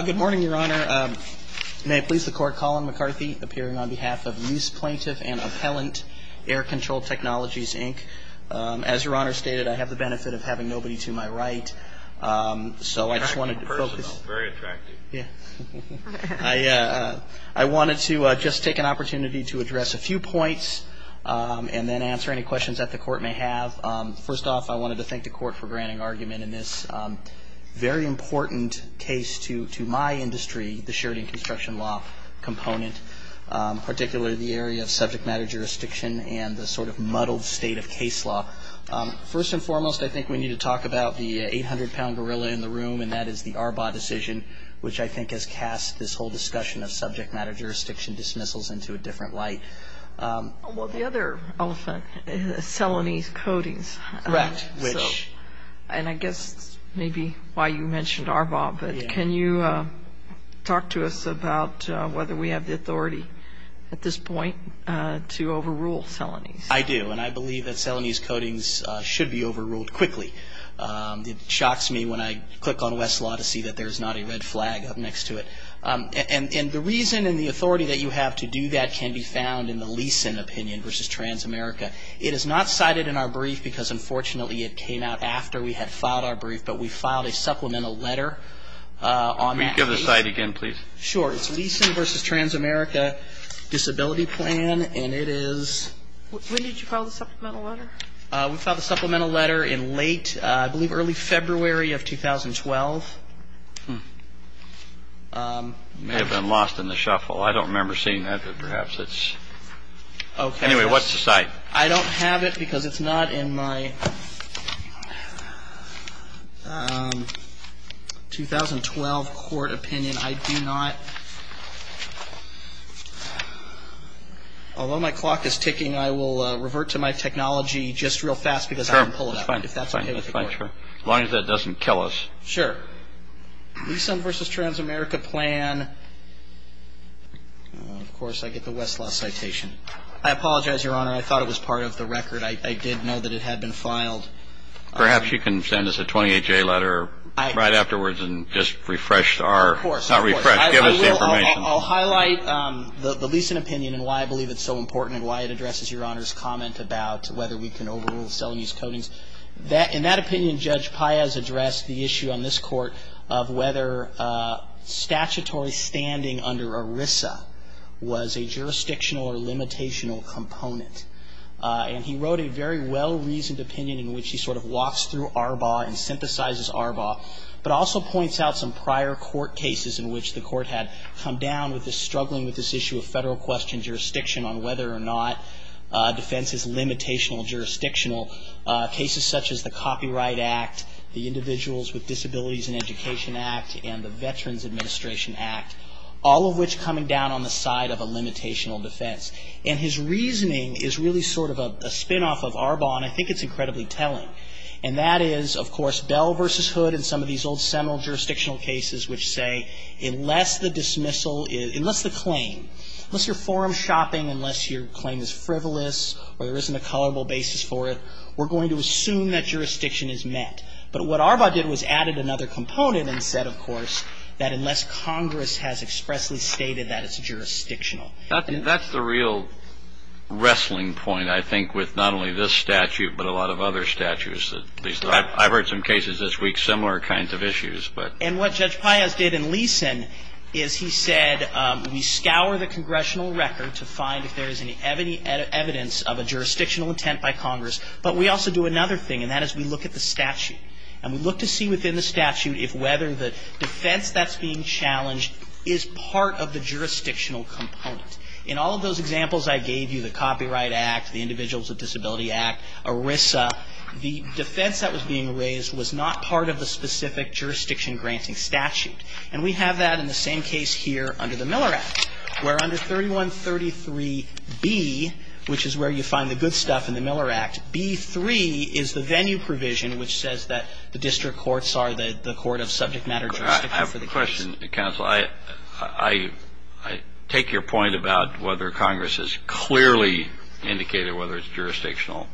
Good morning, Your Honor. May it please the Court, Colin McCarthy, appearing on behalf of Luce Plaintiff and Appellant, Air Control Technologies, Inc. As Your Honor stated, I have the benefit of having nobody to my right, so I just wanted to focus. Very personal. Very attractive. I wanted to just take an opportunity to address a few points and then answer any questions that the Court may have. First off, I wanted to thank the Court for granting argument in this very important case to my industry, the Sheridan construction law component, particularly the area of subject matter jurisdiction and the sort of muddled state of case law. First and foremost, I think we need to talk about the 800-pound gorilla in the room, and that is the Arbaugh decision, which I think has cast this whole discussion of subject matter jurisdiction dismissals into a different light. Well, the other elephant is Selanese coatings. Correct. And I guess maybe why you mentioned Arbaugh, but can you talk to us about whether we have the authority at this point to overrule Selanese? I do, and I believe that Selanese coatings should be overruled quickly. It shocks me when I click on Westlaw to see that there's not a red flag up next to it. And the reason and the authority that you have to do that can be found in the Leeson opinion versus Transamerica. It is not cited in our brief because, unfortunately, it came out after we had filed our brief, but we filed a supplemental letter on that case. Can you give the site again, please? Sure. It's Leeson versus Transamerica disability plan, and it is – When did you file the supplemental letter? We filed the supplemental letter in late – I believe early February of 2012. It may have been lost in the shuffle. I don't remember seeing that, but perhaps it's – anyway, what's the site? I don't have it because it's not in my 2012 court opinion. I do not – although my clock is ticking, I will revert to my technology just real fast because I didn't pull it out. Sure. That's fine. As long as that doesn't kill us. Sure. Leeson versus Transamerica plan – of course, I get the Westlaw citation. I apologize, Your Honor. I thought it was part of the record. I did know that it had been filed. Perhaps you can send us a 28-J letter right afterwards and just refresh our – Not refresh. Give us the information. I will – I'll highlight the Leeson opinion and why I believe it's so important and why it addresses Your Honor's comment about whether we can overrule cell and use codings. In that opinion, Judge Paez addressed the issue on this Court of whether statutory standing under ERISA was a jurisdictional or limitational component. And he wrote a very well-reasoned opinion in which he sort of walks through ARBA and synthesizes ARBA, but also points out some prior court cases in which the court had come down with this – struggling with this issue of federal question jurisdiction on whether or not defense is limitational, jurisdictional, cases such as the Copyright Act, the Individuals with Disabilities in Education Act, and the Veterans Administration Act, all of which coming down on the side of a limitational defense. And his reasoning is really sort of a spin-off of ARBA, and I think it's incredibly telling. And that is, of course, Bell v. Hood and some of these old seminal jurisdictional cases which say, unless the dismissal – unless the claim – unless you're forum shopping, unless your claim is frivolous or there isn't a colorable basis for it, we're going to assume that jurisdiction is met. But what ARBA did was added another component and said, of course, that unless Congress has expressly stated that it's jurisdictional. That's the real wrestling point, I think, with not only this statute, but a lot of other statutes. I've heard some cases this week, similar kinds of issues. And what Judge Payas did in Leeson is he said, we scour the congressional record to find if there is any evidence of a jurisdictional intent by Congress, but we also do another thing, and that is we look at the statute. And we look to see within the statute if whether the defense that's being challenged is part of the jurisdictional component. In all of those examples I gave you, the Copyright Act, the Individuals with Disability Act, ERISA, the defense that was being raised was not part of the specific jurisdiction-granting statute. And we have that in the same case here under the Miller Act, where under 3133B, which is where you find the good stuff in the Miller Act, B3 is the venue provision which says that the district courts are the court of subject matter jurisdiction. I have a question, counsel. I take your point about whether Congress has clearly indicated whether it's jurisdictional.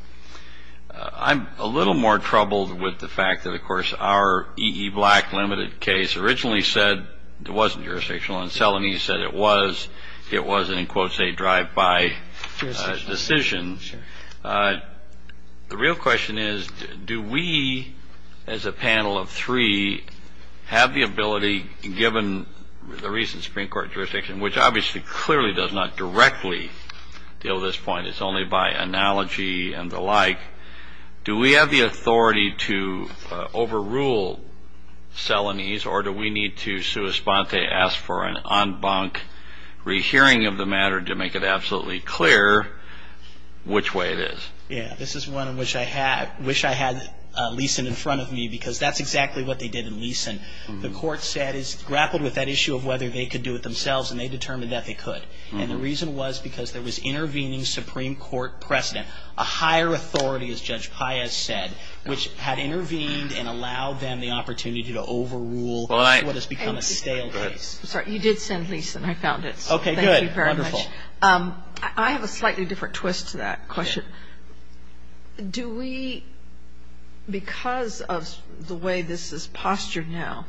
I'm a little more troubled with the fact that, of course, our E.E. Black limited case originally said it wasn't jurisdictional, and Selanee said it was. It was an, in quotes, a drive-by decision. The real question is do we as a panel of three have the ability, given the recent Supreme Court jurisdiction, which obviously clearly does not directly deal with this point. It's only by analogy and the like. Do we have the authority to overrule Selanee's, or do we need to, sua sponte, ask for an en banc rehearing of the matter to make it absolutely clear which way it is? Yeah, this is one in which I wish I had Leeson in front of me, because that's exactly what they did in Leeson. The court grappled with that issue of whether they could do it themselves, and they determined that they could. And the reason was because there was intervening Supreme Court precedent, a higher authority, as Judge Paez said, which had intervened and allowed them the opportunity to overrule what has become a stale case. I'm sorry, you did send Leeson. I found it. Okay, good. Thank you very much. I have a slightly different twist to that question. Do we, because of the way this is postured now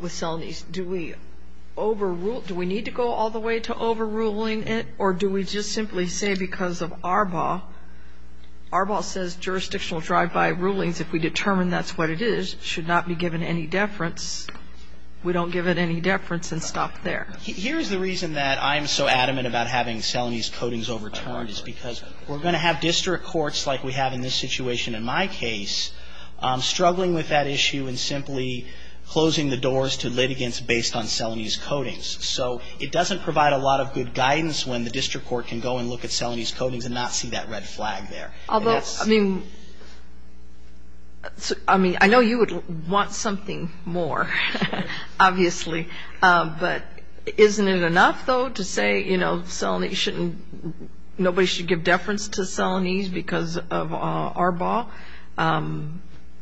with Selanee's, do we overrule, do we need to go all the way to overruling it, or do we just simply say because of Arbaugh, Arbaugh says jurisdictional drive-by rulings, if we determine that's what it is, should not be given any deference. We don't give it any deference and stop there. Here's the reason that I'm so adamant about having Selanee's codings overturned, is because we're going to have district courts like we have in this situation in my case struggling with that issue and simply closing the doors to litigants based on Selanee's codings. So it doesn't provide a lot of good guidance when the district court can go and look at Selanee's codings and not see that red flag there. Although, I mean, I know you would want something more, obviously, but isn't it enough, though, to say nobody should give deference to Selanee's because of Arbaugh?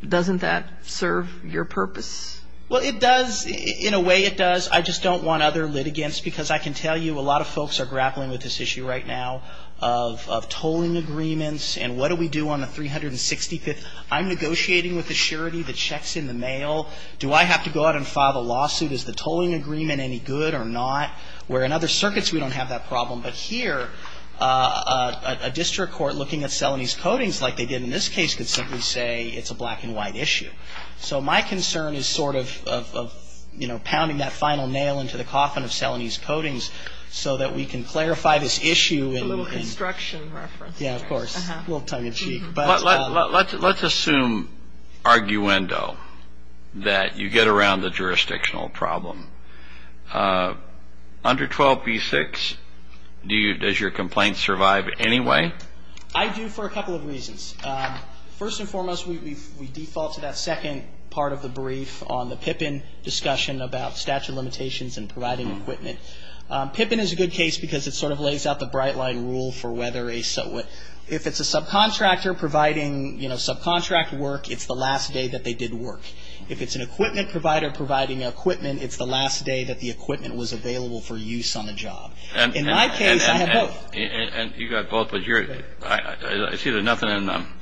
Doesn't that serve your purpose? Well, it does. In a way, it does. I just don't want other litigants, because I can tell you a lot of folks are grappling with this issue right now of tolling agreements and what do we do on the 365th. I'm negotiating with the surety that checks in the mail. Do I have to go out and file a lawsuit? Is the tolling agreement any good or not? Where in other circuits, we don't have that problem. But here, a district court looking at Selanee's codings like they did in this case could simply say it's a black and white issue. So my concern is sort of pounding that final nail into the coffin of Selanee's codings so that we can clarify this issue. A little construction reference. Yeah, of course. A little tongue-in-cheek. Let's assume, arguendo, that you get around the jurisdictional problem. Under 12b-6, does your complaint survive anyway? I do for a couple of reasons. First and foremost, we default to that second part of the brief on the PIPIN discussion about statute of limitations and providing equipment. PIPIN is a good case because it sort of lays out the bright line rule for whether a so what. If it's a subcontractor providing, you know, subcontract work, it's the last day that they did work. If it's an equipment provider providing equipment, it's the last day that the equipment was available for use on the job. In my case, I have both. And you've got both, but I see there's nothing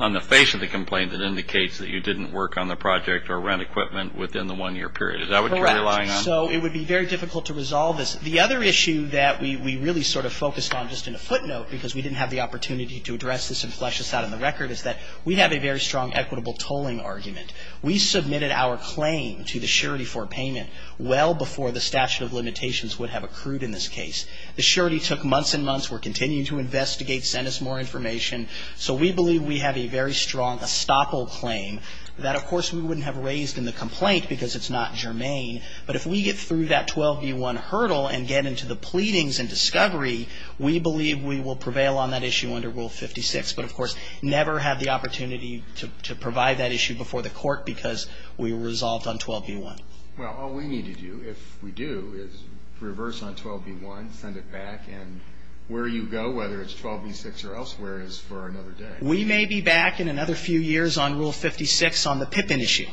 on the face of the complaint that indicates that you didn't work on the project or rent equipment within the one-year period. Is that what you're relying on? Correct. So it would be very difficult to resolve this. The other issue that we really sort of focused on just in a footnote because we didn't have the opportunity to address this and flesh this out on the record is that we have a very strong equitable tolling argument. We submitted our claim to the surety for payment well before the statute of limitations would have accrued in this case. The surety took months and months. We're continuing to investigate, send us more information. So we believe we have a very strong estoppel claim that, of course, we wouldn't have raised in the complaint because it's not germane. But if we get through that 12b1 hurdle and get into the pleadings and discovery, we believe we will prevail on that issue under Rule 56. But, of course, never had the opportunity to provide that issue before the court because we resolved on 12b1. Well, all we need to do, if we do, is reverse on 12b1, send it back. And where you go, whether it's 12b6 or elsewhere, is for another day. We may be back in another few years on Rule 56 on the PIP issue.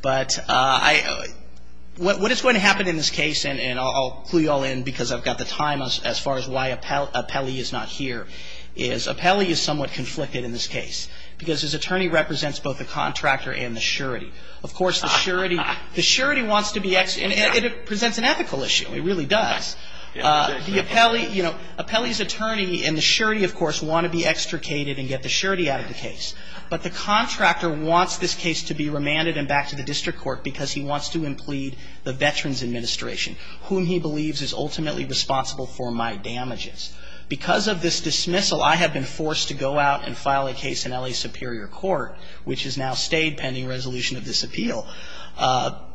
But what is going to happen in this case, and I'll clue you all in because I've got the time as far as why Apelli is not here, is Apelli is somewhat conflicted in this case because his attorney represents both the contractor and the surety. Of course, the surety wants to be extricated. And it presents an ethical issue. It really does. The Apelli, you know, Apelli's attorney and the surety, of course, want to be extricated and get the surety out of the case. But the contractor wants this case to be remanded and back to the district court because he wants to implead the Veterans Administration, whom he believes is ultimately responsible for my damages. Because of this dismissal, I have been forced to go out and file a case in L.A. Superior Court, which has now stayed pending resolution of this appeal.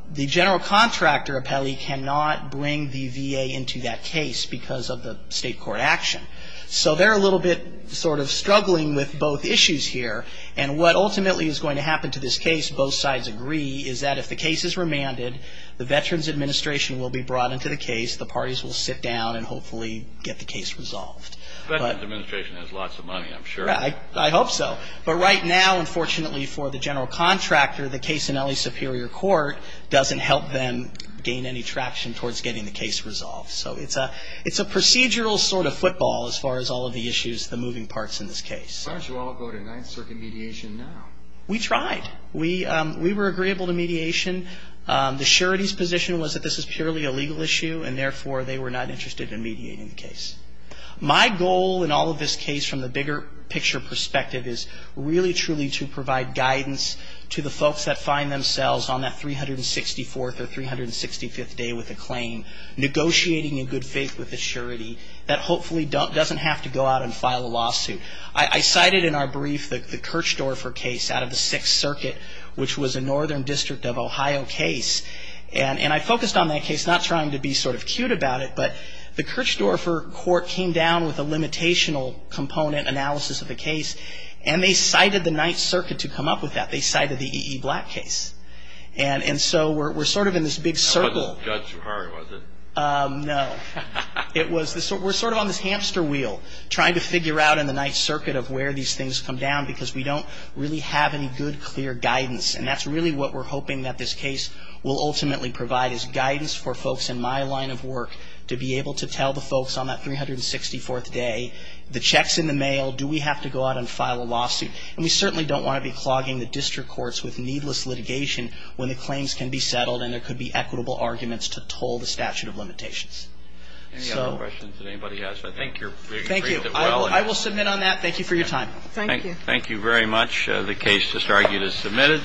The general contractor, Apelli, cannot bring the VA into that case because of the state court action. So they're a little bit sort of struggling with both issues here. And what ultimately is going to happen to this case, both sides agree, is that if the case is remanded, the Veterans Administration will be brought into the case. The parties will sit down and hopefully get the case resolved. Veterans Administration has lots of money, I'm sure. I hope so. But right now, unfortunately for the general contractor, the case in L.A. Superior Court doesn't help them gain any traction towards getting the case resolved. So it's a procedural sort of football as far as all of the issues, the moving parts in this case. Why don't you all go to Ninth Circuit mediation now? We tried. We were agreeable to mediation. The surety's position was that this is purely a legal issue, and therefore they were not interested in mediating the case. My goal in all of this case from the bigger picture perspective is really truly to provide guidance to the folks that find themselves on that 364th or 365th day with a claim, negotiating in good faith with the surety that hopefully doesn't have to go out and file a lawsuit. I cited in our brief the Kirchdorfer case out of the Sixth Circuit, which was a northern district of Ohio case. And I focused on that case, not trying to be sort of cute about it, but the Kirchdorfer court came down with a limitational component analysis of the case, and they cited the Ninth Circuit to come up with that. They cited the E.E. Black case. And so we're sort of in this big circle. It wasn't Judge Zucari, was it? No. We're sort of on this hamster wheel trying to figure out in the Ninth Circuit of where these things come down because we don't really have any good, clear guidance. And that's really what we're hoping that this case will ultimately provide, is guidance for folks in my line of work to be able to tell the folks on that 364th day, the check's in the mail, do we have to go out and file a lawsuit. And we certainly don't want to be clogging the district courts with needless litigation when the claims can be settled and there could be equitable arguments to toll the statute of limitations. Any other questions that anybody has? I think you're being treated well. Thank you. I will submit on that. Thank you for your time. Thank you. Thank you very much. The case is submitted.